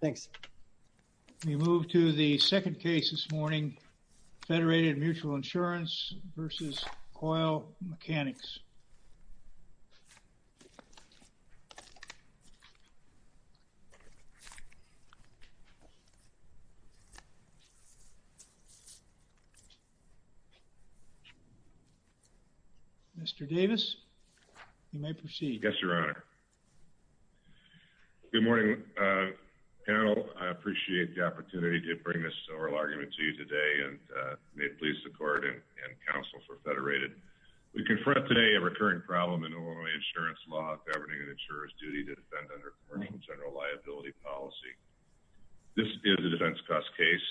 Thanks. We move to the second case this morning, Federated Mutual Insurance v. Coyle Mechanics. Mr. Davis, you may proceed. Yes, Your Honor. Good morning, panel. I appreciate the opportunity to bring this oral argument to you today, and may it please the court and counsel for Federated. We confront today a recurring problem in Illinois insurance law governing an insurer's duty to defend under commercial general liability policy. This is a defense cost case,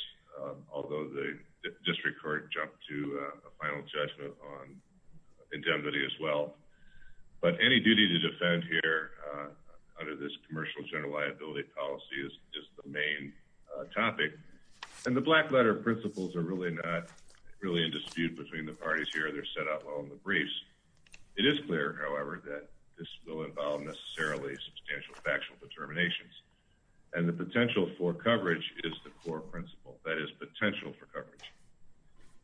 although the district court jumped to a final judgment on any duty to defend here under this commercial general liability policy is the main topic, and the black letter principles are really not really in dispute between the parties here. They're set out well in the briefs. It is clear, however, that this will involve necessarily substantial factual determinations, and the potential for coverage is the core principle. That is potential for coverage.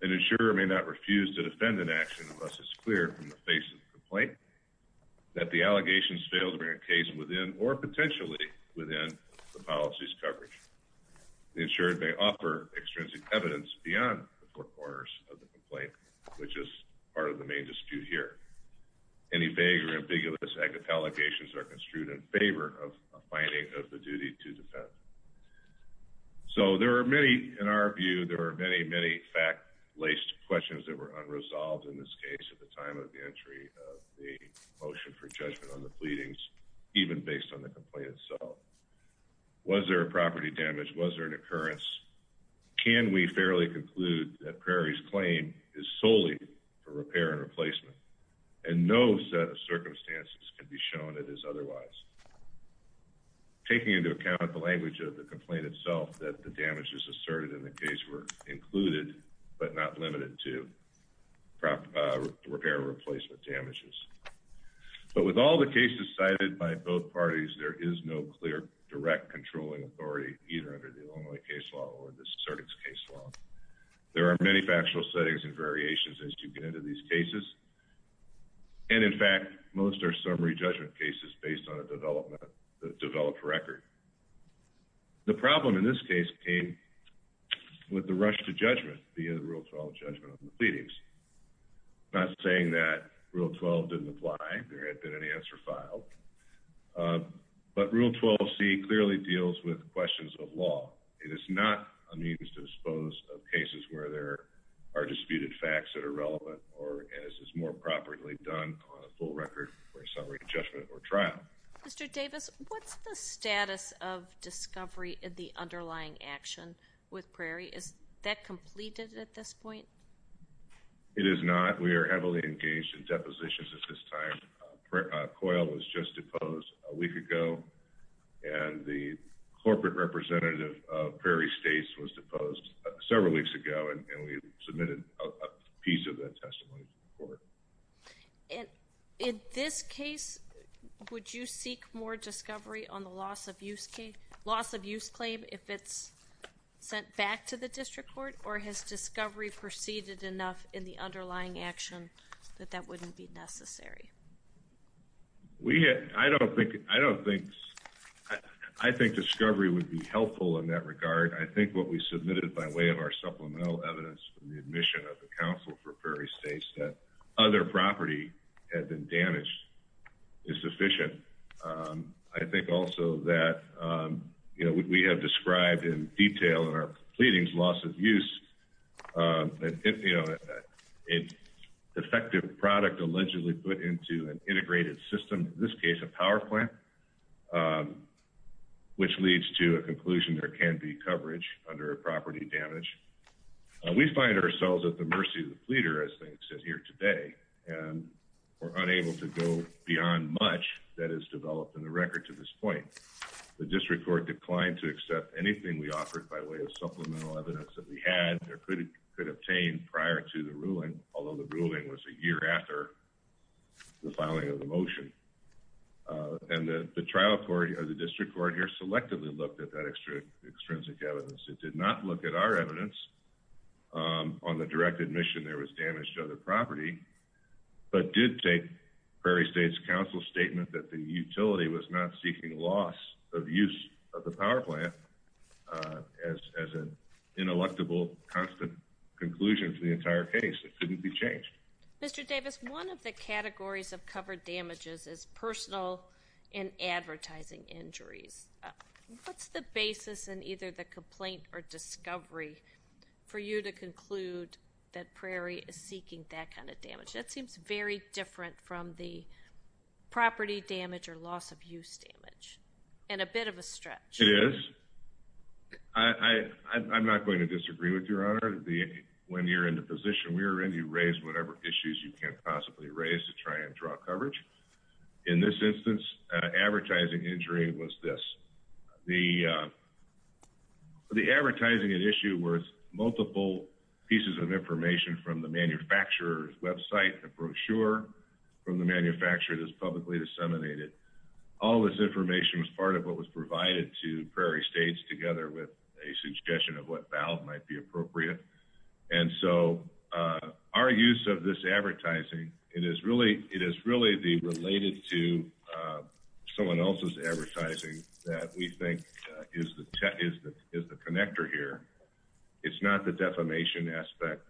An insurer may not refuse to defend an action unless it's clear from the face of the complaint that the allegations failed to bring a case within, or potentially within, the policy's coverage. The insurer may offer extrinsic evidence beyond the four corners of the complaint, which is part of the main dispute here. Any vague or ambiguous allegations are construed in favor of a finding of the duty to defend. So there are many, in our view, there of the motion for judgment on the pleadings, even based on the complaint itself. Was there a property damage? Was there an occurrence? Can we fairly conclude that Prairie's claim is solely for repair and replacement, and no set of circumstances could be shown it as otherwise? Taking into account the language of the complaint itself that the damages asserted in the case were replacement damages. But with all the cases cited by both parties, there is no clear, direct controlling authority, either under the Illinois case law or the Certix case law. There are many factual settings and variations as you get into these cases, and in fact, most are summary judgment cases based on a developed record. The problem in this case came with the rush to judgment via the Rule 12 judgment on the pleadings. Not saying that Rule 12 didn't apply. There had been an answer filed. But Rule 12c clearly deals with questions of law. It is not a means to dispose of cases where there are disputed facts that are relevant, or as is more properly done on a full record for a summary judgment or trial. Mr. Davis, what's the status of discovery in the underlying action with Prairie? Is that completed at this point? It is not. We are heavily engaged in depositions at this time. Coyle was just deposed a week ago, and the corporate representative of Prairie States was deposed several weeks ago, and we submitted a piece of that testimony to the court. And in this case, would you seek more discovery on the loss of use claim if it's sent back to the district court, or has discovery proceeded enough in the underlying action that that wouldn't be necessary? I think discovery would be helpful in that regard. I think what we submitted by way of our supplemental evidence from the admission of the counsel for Prairie States that other property had been damaged is sufficient. I think also that, you know, we have described in detail in our pleadings loss of use, that, you know, a defective product allegedly put into an integrated system, in this case, a power plant, which leads to a conclusion there can be coverage under a property damage. We find ourselves at the mercy of the pleader, as they said here today, and we're unable to go beyond much that is developed in the record to this point. The district court declined to accept anything we offered by way of supplemental evidence that we had or could obtain prior to the ruling, although the ruling was a year after the filing of the motion. And the trial court or the district court here selectively looked at that extrinsic evidence. It did not look at our evidence on the direct admission there was damage to other property. But did take Prairie State's counsel statement that the utility was not seeking loss of use of the power plant as an ineluctable, constant conclusion to the entire case. It couldn't be changed. Mr. Davis, one of the categories of covered damages is personal and advertising injuries. What's the basis in either the complaint or discovery for you to conclude that Prairie is seeking that kind of damage? That seems very different from the property damage or loss of use damage and a bit of a stretch. It is. I'm not going to disagree with your honor. When you're in the position we're in, you raise whatever issues you can't possibly raise to try and draw coverage. In this instance, advertising injury was this. The advertising an issue worth multiple pieces of information from the manufacturer's website, a brochure from the manufacturer that's publicly disseminated. All this information was part of what was provided to Prairie States together with a suggestion of what valve might be appropriate. And so our use of this advertising, it is really the related to someone else's advertising that we think is the connector here. It's not the defamation aspect.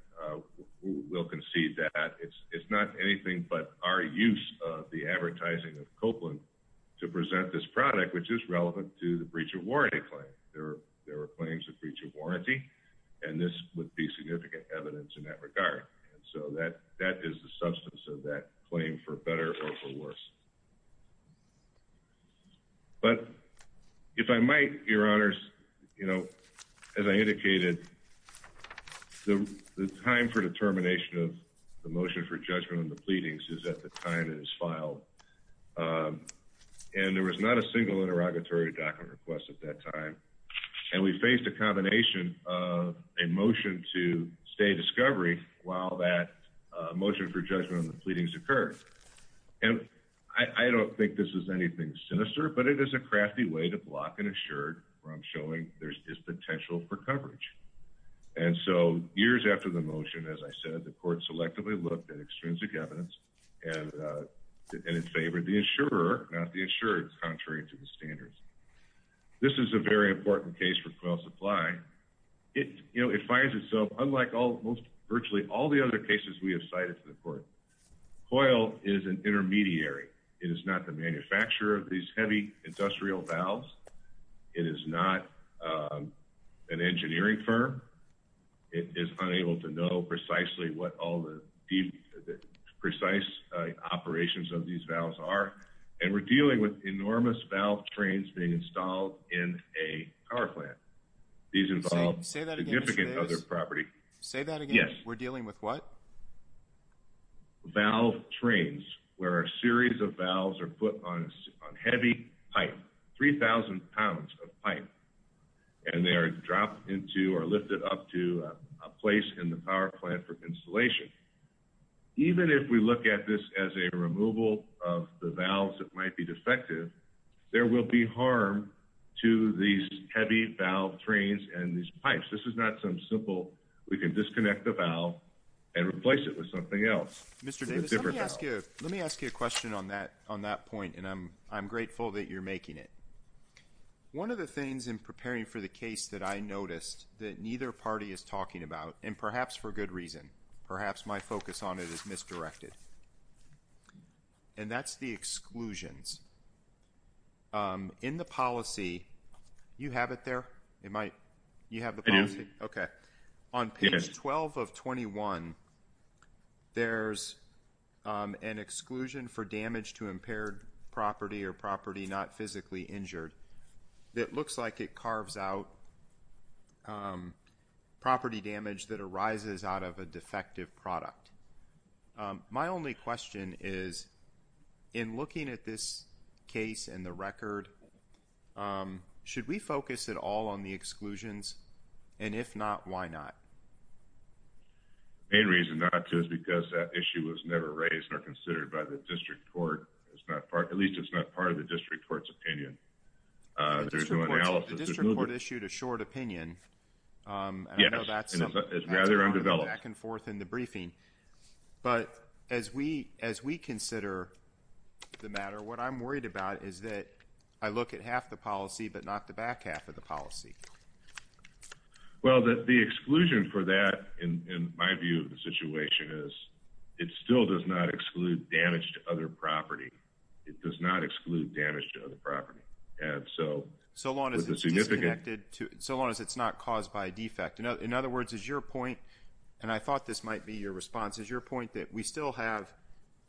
We'll concede that it's not anything but our use of the advertising of Copeland to present this product, which is relevant to the breach of warranty claim. There were claims of breach of warranty, and this would be significant evidence in that regard. And so that is the substance of that claim for better or for worse. But if I might, your honors, as I indicated, the time for determination of the motion for judgment on the pleadings is at the time it is filed. And there was not a single interrogatory document request at that time. And we faced a combination of a motion to stay discovery while that motion for judgment on the pleadings occurred. And I don't think this is anything sinister, but it is a crafty way to block an insured where I'm showing there's this potential for coverage. And so years after the motion, as I said, the court selectively looked at extrinsic evidence and in favor of the insurer, not the insured, contrary to the standards. This is a very important case for oil supply. It, you know, it finds itself unlike all most virtually all the other cases we have cited to the court. Coil is an intermediary. It is not the manufacturer of these heavy industrial valves. It is not an engineering firm. It is unable to know precisely what all the precise operations of these valves are. And we're dealing with enormous valve trains being installed in a power plant. These involve significant other property. Say that again. We're dealing with what valve trains where a series of valves are put on a heavy pipe, 3,000 pounds of pipe, and they are dropped into or lifted up to a place in the power plant for installation. Even if we look at this as a removal of the valves that might be defective, there will be harm to these heavy valve trains and these pipes. This is not some simple, we can disconnect the valve and replace it with something else. Mr. Davis, let me ask you a question on that point, and I'm grateful that you're making it. One of the things in preparing for the case that I noticed that neither party is talking about, and perhaps for good reason, perhaps my focus on it is misdirected, and that's the exclusions. In the policy, you have it there? You have the policy? I do. Okay. On page 12 of 21, there's an exclusion for damage to impaired property or property not physically injured. It looks like it carves out property damage that arises out of a defective product. My only question is, in looking at this case and the record, should we focus at all on the exclusions? And if not, why not? The main reason not to is because that issue was never raised or considered by the district court. At least, it's not part of the district court's opinion. The district court issued a short opinion, and I know that's part of the back and forth in the but as we consider the matter, what I'm worried about is that I look at half the policy, but not the back half of the policy. Well, the exclusion for that, in my view of the situation, is it still does not exclude damage to other property. It does not exclude damage to other property. So long as it's disconnected, so long as it's not caused by a defect. In other words, is your point, and I thought this might be your response, is your point that we still have,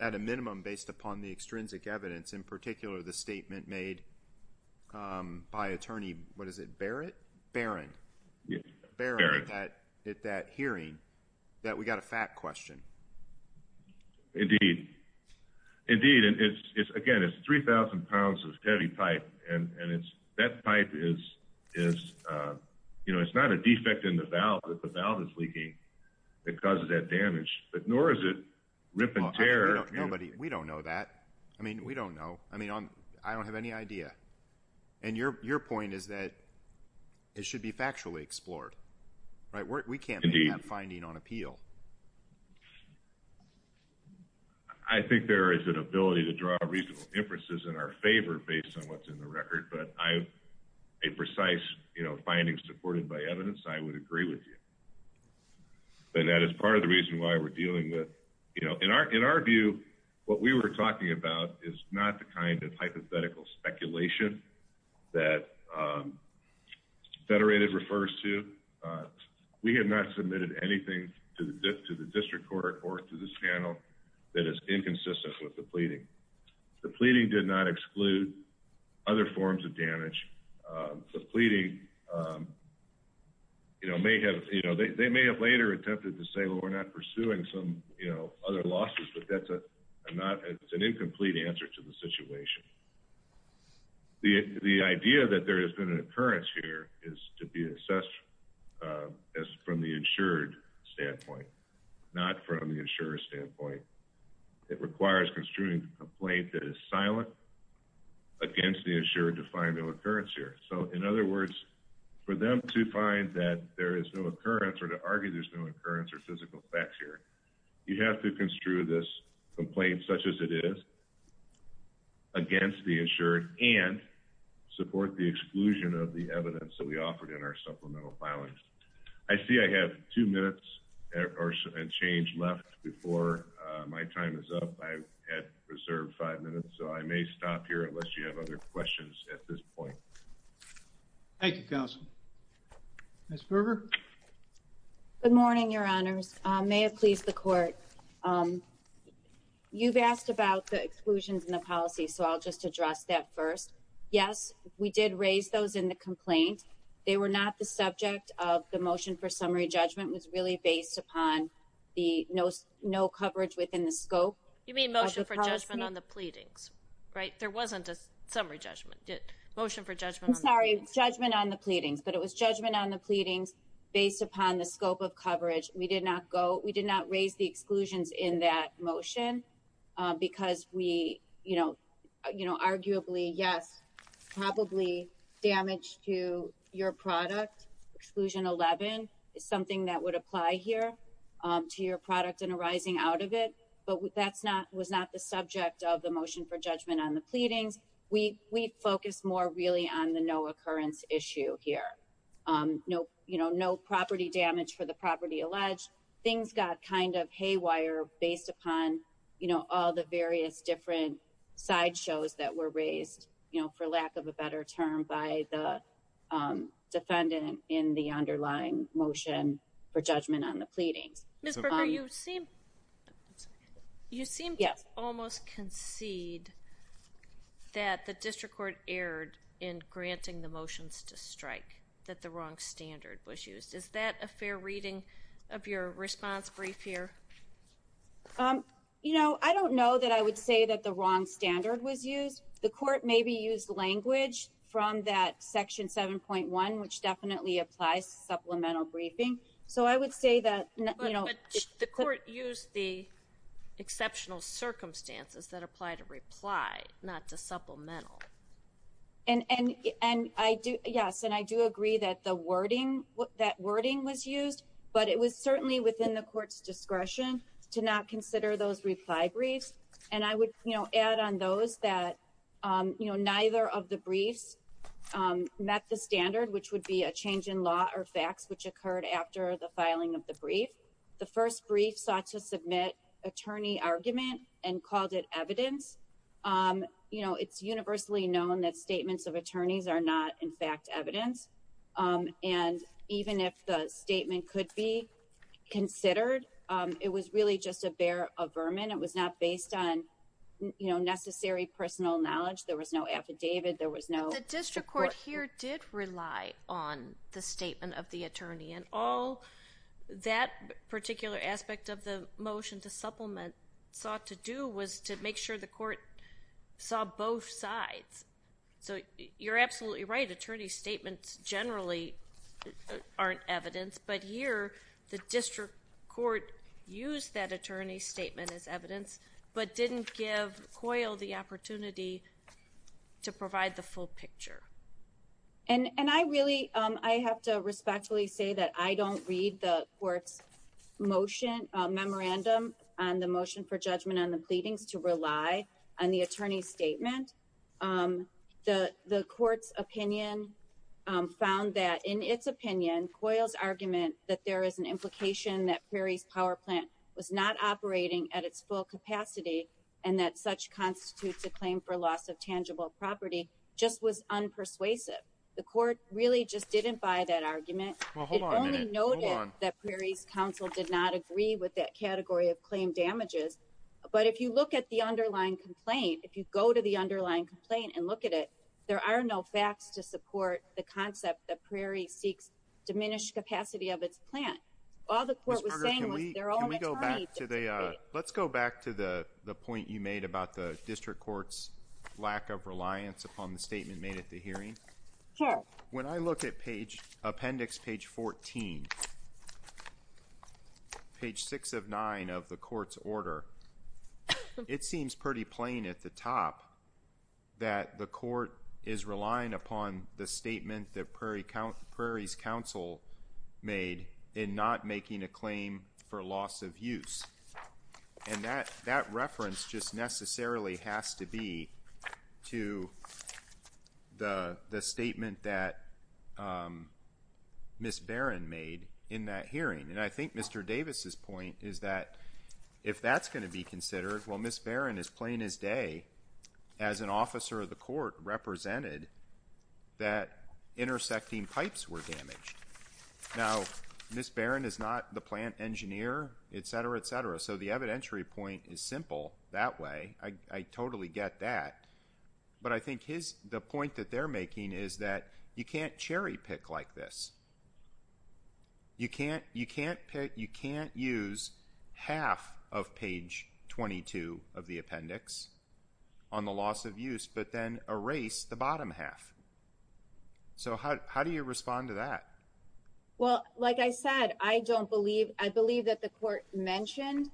at a minimum, based upon the extrinsic evidence, in particular the statement made by attorney, what is it, Barrett? Barron. Barron at that hearing, that we got a fat question. Indeed. Indeed, and it's, again, it's 3,000 pounds of heavy type, and that type is, you know, it's not a defect in the valve, but the valve is leaking that causes that damage, but nor is it rip and tear. Nobody, we don't know that. I mean, we don't know. I mean, I don't have any idea, and your point is that it should be factually explored, right? We can't make that finding on appeal. I think there is an ability to draw reasonable inferences in our favor based on what's in the findings supported by evidence. I would agree with you, and that is part of the reason why we're dealing with, you know, in our view, what we were talking about is not the kind of hypothetical speculation that federated refers to. We have not submitted anything to the district court or to this panel that is inconsistent with the pleading. The pleading did not exclude other forms of damage. The pleading, you know, may have, you know, they may have later attempted to say, well, we're not pursuing some, you know, other losses, but that's an incomplete answer to the situation. The idea that there has been an occurrence here is to be assessed as from the insured standpoint, not from the insurer's standpoint. It requires construing a complaint that is silent against the insured to find no occurrence here. So in other words, for them to find that there is no occurrence or to argue there's no occurrence or physical facts here, you have to construe this complaint such as it is against the insured and support the exclusion of the evidence that we offered in our supplemental filings. I see I have two minutes and change left before my time is up. I had reserved five minutes, so I may stop here unless you have other questions at this point. Thank you, counsel. Ms. Berger? Good morning, your honors. May it please the court. You've asked about the exclusions in the policy, so I'll just address that first. Yes, we did raise those in the complaint. They were not the subject of the motion for summary judgment was really based upon the no coverage within the scope. You mean motion for judgment on the pleadings, right? There wasn't a summary judgment motion for judgment. Sorry, judgment on the pleadings, but it was judgment on the pleadings based upon the scope of coverage. We did not go. We did not raise the exclusions in that motion because we, you know, you know, apply here to your product and arising out of it, but that's not was not the subject of the motion for judgment on the pleadings. We focus more really on the no occurrence issue here. No, you know, no property damage for the property alleged. Things got kind of haywire based upon, you know, all the various different side shows that were raised, you know, for lack of a better term by the defendant in the underlying motion for judgment on the pleadings. Ms. Berger, you seem to almost concede that the district court erred in granting the motions to strike that the wrong standard was used. Is that a fair reading of your response brief here? You know, I don't know that I would say that the wrong standard was used. The court maybe used language from that section 7.1, which definitely applies to supplemental briefing. So I would say that, you know, the court used the exceptional circumstances that apply to reply, not to supplemental. And I do. Yes. And I do agree that the wording that wording was used, but it was certainly within the court's discretion to not consider those reply briefs. And I would, you know, add on those that, you know, neither of the briefs met the standard, which would be a change in law or facts, which occurred after the filing of the brief. The first brief sought to submit attorney argument and called it evidence. You know, it's universally known that statements of attorneys are not in fact evidence. And even if the statement could be considered, it was really just a bear of vermin. It was not based on, you know, necessary personal knowledge. There was no affidavit. There was no district court here did rely on the statement of the attorney and all that particular aspect of the motion to supplement sought to do was to make sure the court saw both sides. So you're absolutely right. Attorney statements generally aren't evidence, but here the district court used that attorney statement as evidence, but didn't give coil the opportunity to provide the full picture. And, and I really, I have to respectfully say that I don't read the court's motion, memorandum on the motion for judgment on the pleadings to rely on the attorney statement. Um, the, the court's opinion, um, found that in its opinion coils argument that there is an implication that Prairie's power plant was not operating at its full capacity and that such constitutes a claim for loss of tangible property just was unpersuasive. The court really just didn't buy that argument. It only noted that Prairie's council did not agree with that category of claim damages. But if you look at the underlying complaint, if you go to the underlying complaint and look at it, there are no facts to support the concept that Prairie seeks diminished capacity of its plant. All the court was saying was they're all, let's go back to the, the point you made about the district court's lack of reliance upon the statement made at the hearing. When I look at page appendix, page 14, page six of nine of the court's order, it seems pretty plain at the top that the court is relying upon the statement that Prairie count Prairie's council made in not making a claim for loss of And that, that reference just necessarily has to be to the, the statement that Ms. Barron made in that hearing. And I think Mr. Davis's point is that if that's going to be considered, well, Ms. Barron is playing his day as an officer of the court represented that intersecting pipes were damaged. Now, Ms. Barron is not the plant engineer, et cetera, et cetera. So the evidentiary point is simple that way. I totally get that. But I think his, the point that they're making is that you can't cherry pick like this. You can't, you can't pick, you can't use half of page 22 of the appendix on the loss of use, but then erase the bottom half. So how, how do you respond to that? Well, like I said, I don't believe, I believe that the court mentioned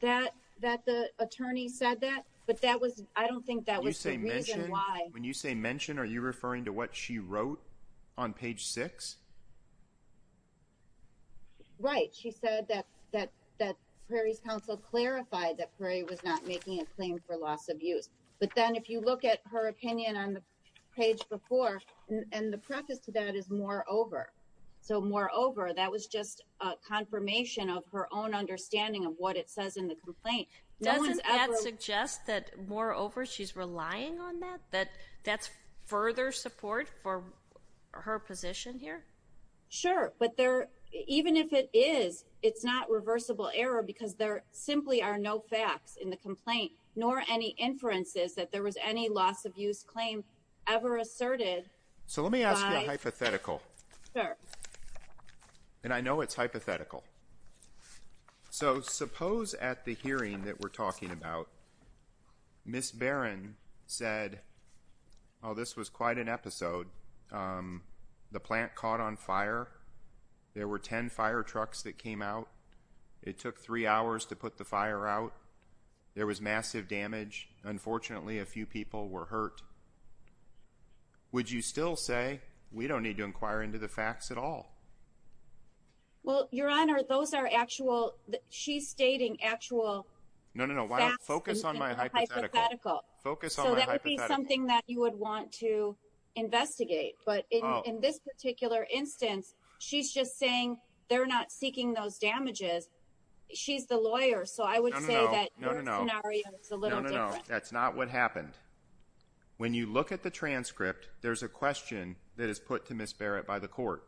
that, that the attorney said that, but that was, I don't think that was the reason why when you say mention, are you referring to what she wrote on page six? Right. She said that, that, that Prairie's council clarified that Prairie was not making a claim for loss of use. But then if you look at her opinion on the page before, and the preface to that is more over. So more over that was just a confirmation of her own understanding of what it says in the complaint. Doesn't that suggest that more over she's relying on that, that that's further support for her position here? Sure. But there, even if it is, it's not reversible error because there nor any inferences that there was any loss of use claim ever asserted. So let me ask you a hypothetical and I know it's hypothetical. So suppose at the hearing that we're talking about, Ms. Barron said, oh, this was quite an episode. The plant caught on fire. There were 10 fire trucks that came out. It took three hours to put the fire out. There was massive damage. Unfortunately, a few people were hurt. Would you still say we don't need to inquire into the facts at all? Well, your Honor, those are actual, she's stating actual. No, no, no. Why don't you focus on my hypothetical. Focus on my hypothetical. So that would be something that you would want to investigate. But in this particular instance, she's just saying they're not seeking those damages. She's the lawyer. So I would say that your scenario is a little different. That's not what happened. When you look at the transcript, there's a question that is put to Ms. Barrett by the court.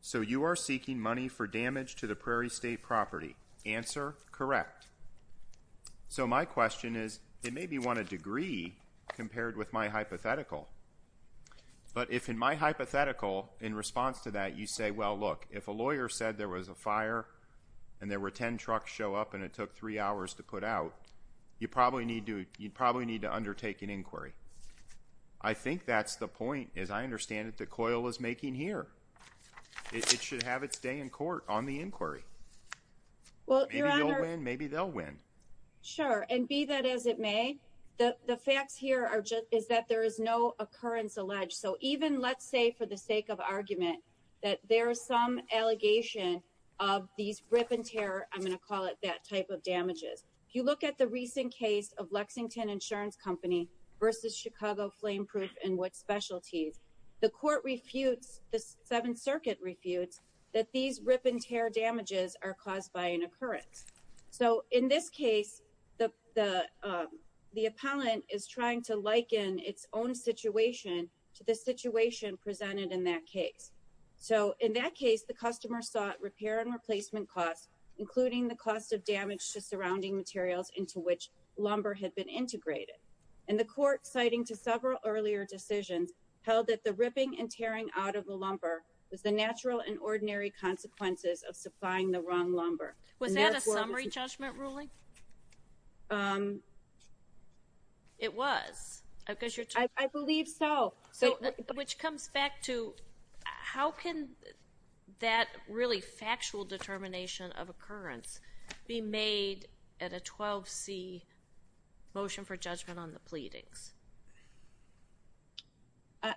So you are seeking money for damage to the Prairie State property. Answer, correct. So my question is, it may be one a degree compared with my hypothetical. But if in my hypothetical, in response to that, you say, well, look, if a lawyer said there was a fire and there were 10 trucks show up and it took three hours to put out, you probably need to undertake an inquiry. I think that's the point, as I understand it, that COIL is making here. It should have its day in court on the inquiry. Well, your Honor. Maybe they'll win. Sure. And be that as it may, the facts here are just, is that there is no occurrence alleged. So even let's say for the sake of argument that there is some allegation of these rip and tear, I'm going to call it that type of damages. If you look at the recent case of Lexington Insurance Company versus Chicago Flame Proof and what specialties, the court refutes, the Seventh Circuit refutes that these rip and tear damages are caused by an occurrence. So in this case, the the the appellant is trying to liken its own situation to the situation presented in that case. So in that case, the customer sought repair and replacement costs, including the cost of damage to surrounding materials into which lumber had been integrated. And the court, citing to several earlier decisions, held that the ripping and tearing out of the lumber was the natural and ordinary consequences of supplying the wrong lumber. Was that a summary judgment ruling? It was. I believe so. Which comes back to how can that really factual determination of occurrence be made at a 12C motion for judgment on the pleadings?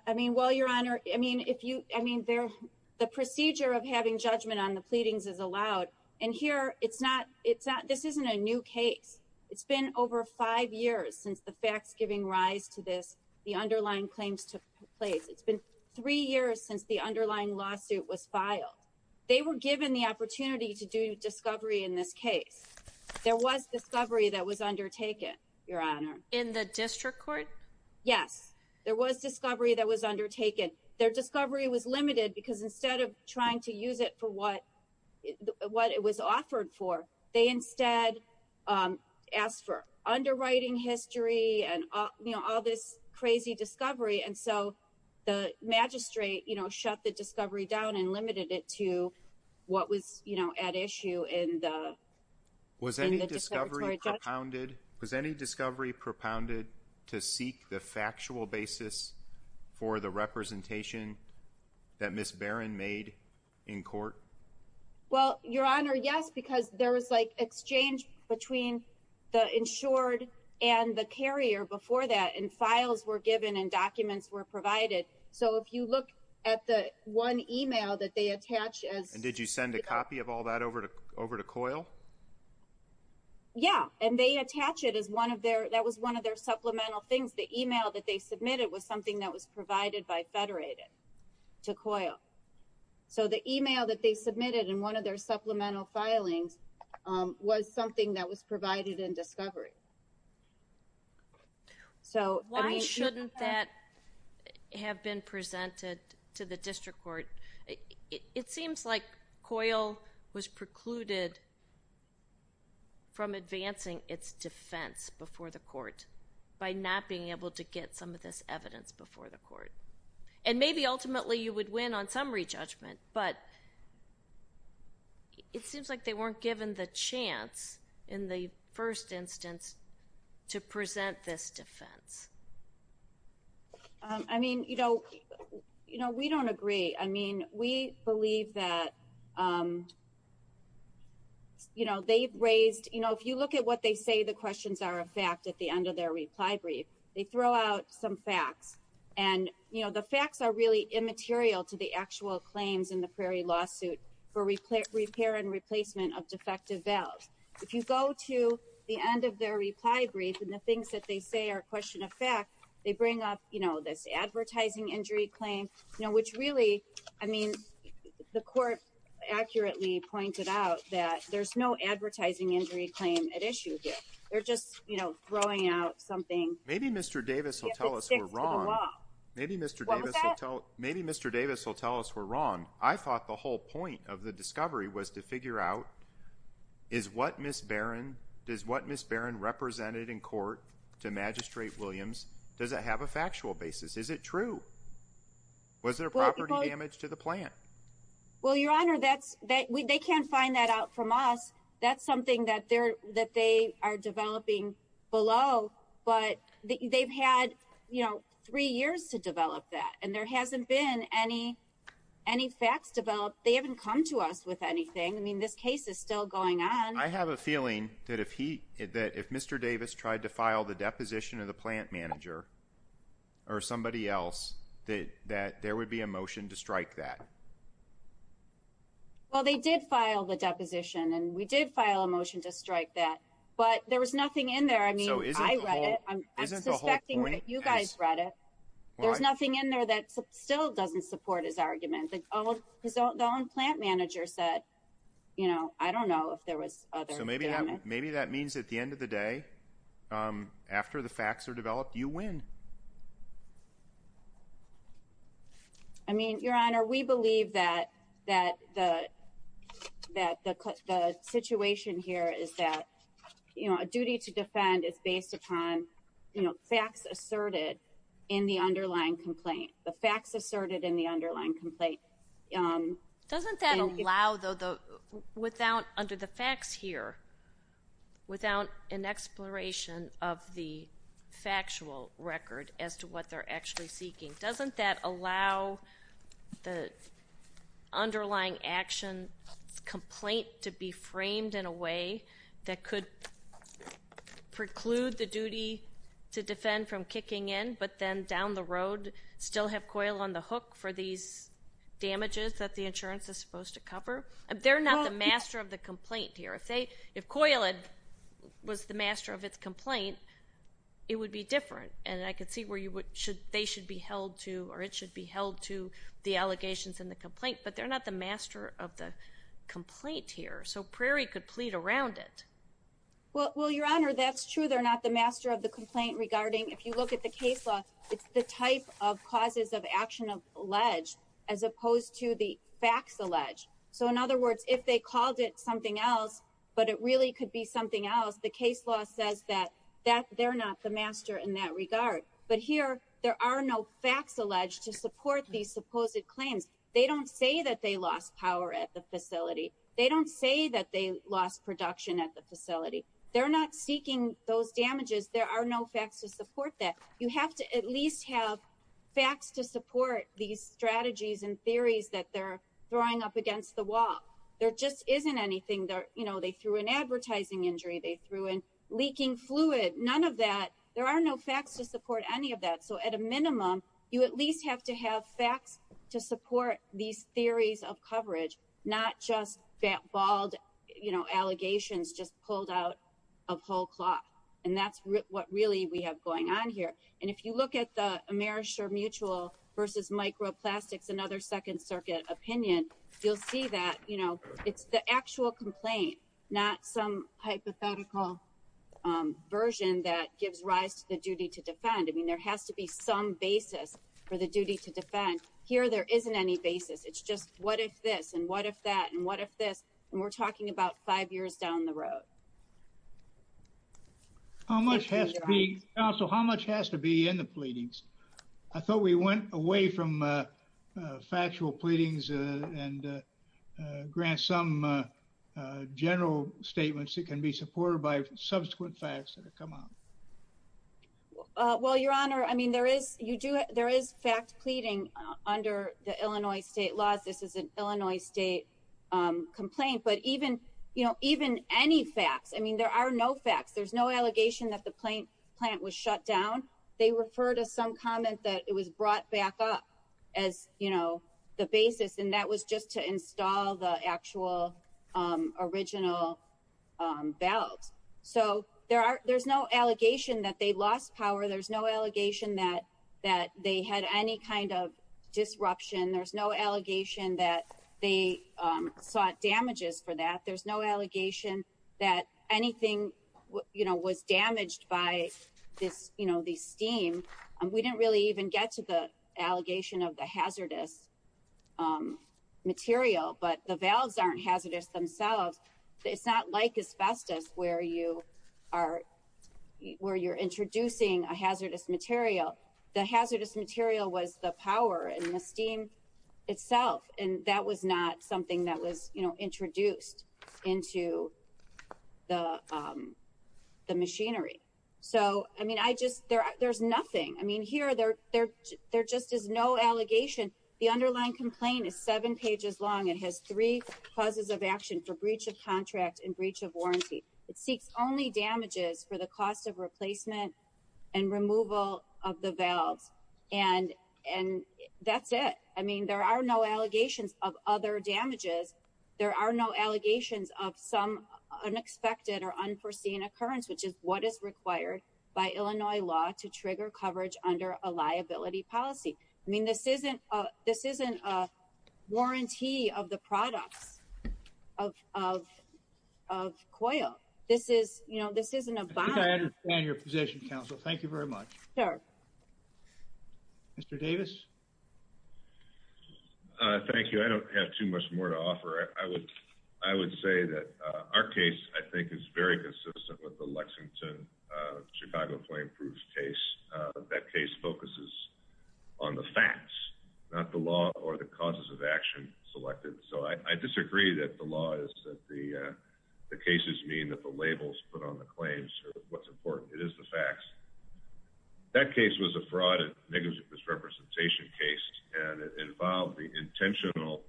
I mean, well, Your Honor, I mean, if you I mean, there the procedure of having judgment on the pleadings is allowed. And here it's not it's not this isn't a new case. It's been over five years since the facts giving rise to this. The underlying claims took place. It's been three years since the underlying lawsuit was filed. They were given the opportunity to do discovery in this case. There was discovery that was undertaken, Your Honor. In the district court? Yes, there was discovery that was undertaken. Their discovery was limited because instead of trying to use it for what it was offered for, they instead asked for underwriting history and, you know, all this crazy discovery. And so the magistrate, you know, shut the discovery down and limited it to what was, you know, at issue in the. Was any discovery propounded? Was any discovery propounded to seek the factual basis for the representation that Ms. Barron made in court? Well, Your Honor, yes, because there was like exchange between the insured and the carrier before that and files were given and documents were provided. So if you look at the one email that they attach as. Yeah, and they attach it as one of their that was one of their supplemental things. The email that they submitted was something that was provided by Federated to COIL. So the email that they submitted in one of their supplemental filings was something that was provided in discovery. So why shouldn't that have been presented to the district court? It seems like COIL was precluded from advancing its defense before the court by not being able to get some of this evidence before the court. And maybe ultimately you would win on summary judgment, but. It seems like they weren't given the chance in the first instance to present this defense. I mean, you know, you know, we don't agree. I mean, we believe that. You know, they've raised, you know, if you look at what they say, the questions are a fact at the end of their reply brief, they throw out some facts and, you know, the facts are really immaterial to the actual claims in the Prairie lawsuit for repair and replacement of defective valves. If you go to the end of their reply brief and the things that they say are question of fact, they bring up, you know, this advertising injury claim, you know, which really, I mean, the court accurately pointed out that there's no advertising injury claim at issue here. They're just, you know, throwing out something. Maybe Mr. Davis will tell us we're wrong. Maybe Mr. Davis will tell us we're wrong. I thought the whole point of the discovery was to figure out is what Ms. Barron, does what Ms. Barron represented in court to Magistrate Williams, does it have a factual basis? Is it true? Was there property damage to the plant? Well, Your Honor, that's, they can't find that out from us. That's something that they are developing below, but they've had, you know, three years to develop that and there hasn't been any facts developed. They haven't come to us with anything. I mean, this case is still going on. I have a feeling that if he, that if Mr. Davis tried to file the deposition of the plant manager or somebody else, that there would be a motion to strike that. Well, they did file the deposition and we did file a motion to strike that, but there was nothing in there. I mean, I read it, I'm suspecting that you guys read it. There's nothing in there that still doesn't support his argument. His own plant manager said, you know, I don't know if there was other... So maybe that means at the end of the day, after the facts are developed, you win. I mean, Your Honor, we believe that the situation here is that, you know, a duty to defend is based upon, you know, facts asserted in the underlying complaint. The facts asserted in the underlying complaint. Doesn't that allow, though, without, under the facts here, without an exploration of the factual record as to what they're actually seeking, doesn't that allow the underlying action complaint to be framed in a way that could preclude the duty to defend from kicking in, but then down the road still have COIL on the hook for these damages that the insurance is supposed to cover? They're not the master of the complaint here. If COIL was the master of its complaint, it would be different. And I could see where they should be held to, or it should be held to the allegations in the complaint, but they're not the master of the complaint here. So Prairie could plead around it. Well, Your Honor, that's true. They're not the master of the complaint regarding, if you look at the case law, it's the type of causes of action of alleged as opposed to the facts alleged. So in other words, if they called it something else, but it really could be something else, the case law says that they're not the master in that regard. But here there are no facts alleged to support these supposed claims. They don't say that they lost power at the facility. They don't say that they lost production at the facility. They're not seeking those damages. There are no facts to support that. You have to at least have facts to support these strategies and theories that they're throwing up against the wall. There just isn't anything there. You know, they threw an advertising injury. They threw in leaking fluid. None of that. There are no facts to support any of that. So at a minimum, you at least have to have facts to support these theories of coverage, not just that bald, you know, allegations just pulled out of whole cloth. And that's what really we have going on here. And if you look at the Amerisher Mutual versus Microplastics, another Second Circuit opinion, you'll see that, you know, it's the actual complaint, not some hypothetical version that gives rise to the duty to defend. I mean, there has to be some basis for the duty to defend. Here there isn't any basis. It's just what if this and what if that and what if this? And we're talking about five years down the road. How much has to be, Counsel, how much has to be in the pleadings? I thought we went away from factual pleadings and grant some general statements that can be supported by subsequent facts that have come out. Well, Your Honor, I mean, there is fact pleading under the Illinois state laws. This is an Illinois state complaint. But even, you know, even any facts, I mean, there are no facts. There's no allegation that the plant was shut down. They refer to some comment that it was brought back up as, you know, the basis. And that was just to install the actual original valves. So there's no allegation that they lost power. There's no allegation that they had any kind of disruption. There's no allegation that they sought damages for that. There's no allegation that anything, you know, was damaged by this, you know, the steam. We didn't really even get to the allegation of the hazardous material. But the valves aren't hazardous themselves. It's not like asbestos where you are where you're introducing a hazardous material. The hazardous material was the power and the steam itself. And that was not something that was, you know, introduced. Into the machinery. So, I mean, I just, there's nothing. I mean, here, there just is no allegation. The underlying complaint is seven pages long. It has three causes of action for breach of contract and breach of warranty. It seeks only damages for the cost of replacement and removal of the valves. And that's it. I mean, there are no allegations of other damages. There are no allegations of some unexpected or unforeseen occurrence, which is what is required by Illinois law to trigger coverage under a liability policy. I mean, this isn't a warranty of the products of coil. This is, you know, this isn't a bond. I understand your position, counsel. Thank you very much. Mr. Davis. Thank you. I don't have too much more to offer. I would say that our case, I think, is very consistent with the Lexington, Chicago flame proof case. That case focuses on the facts, not the law or the causes of action selected. So I disagree that the law is that the cases mean that the labels put on the claims or what's important. It is the facts. That case was a fraud and negligent misrepresentation case. And it involved the intentional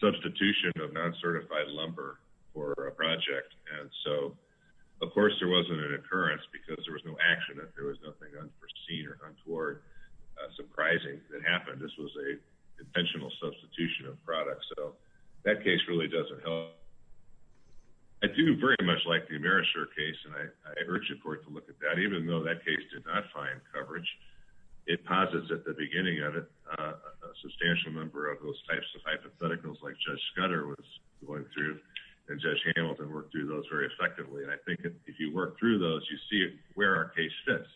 substitution of non-certified lumber for a project. And so, of course, there wasn't an occurrence because there was no action. If there was nothing unforeseen or untoward surprising that happened, this was a intentional substitution of products. So that case really doesn't help. I do very much like the Amerisher case. And I urge the court to look at that, even though that case did not find coverage. It posits at the beginning of it a substantial number of those types of hypotheticals like Judge Scudder was going through and Judge Hamilton worked through those very effectively. And I think if you work through those, you see where our case fits.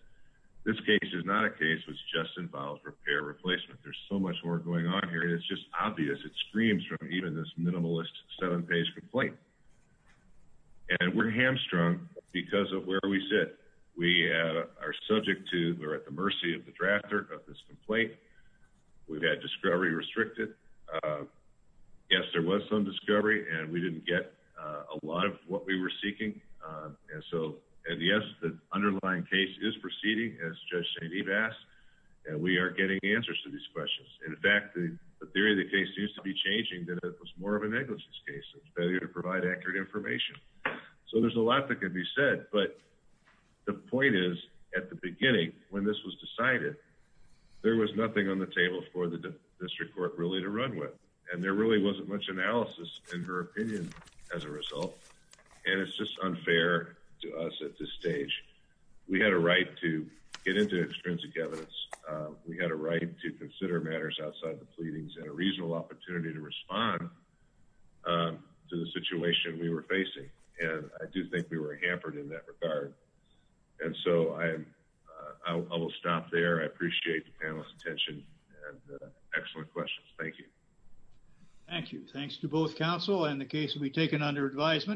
This case is not a case which just involves repair replacement. There's so much more going on here. It's just obvious. It screams from even this minimalist seven page complaint. And we're hamstrung because of where we sit. We are subject to, we're at the mercy of the drafter of this complaint. We've had discovery restricted. Yes, there was some discovery and we didn't get a lot of what we were seeking. And so, and yes, the underlying case is proceeding as Judge St-Ives asked. And we are getting answers to these questions. In fact, the theory of the case seems to be changing that it was more of a negligence case. It's failure to provide accurate information. So there's a lot that could be said. But the point is at the beginning, when this was decided, there was nothing on the table for the district court really to run with. And there really wasn't much analysis in her opinion as a result. And it's just unfair to us at this stage. We had a right to get into extrinsic evidence. We had a right to consider matters outside the pleadings and a reasonable opportunity to respond to the situation we were facing. And I do think we were hampered in that regard. And so I will stop there. I appreciate the panel's attention and excellent questions. Thank you. Thank you. Thanks to both counsel and the case will be taken under advisement.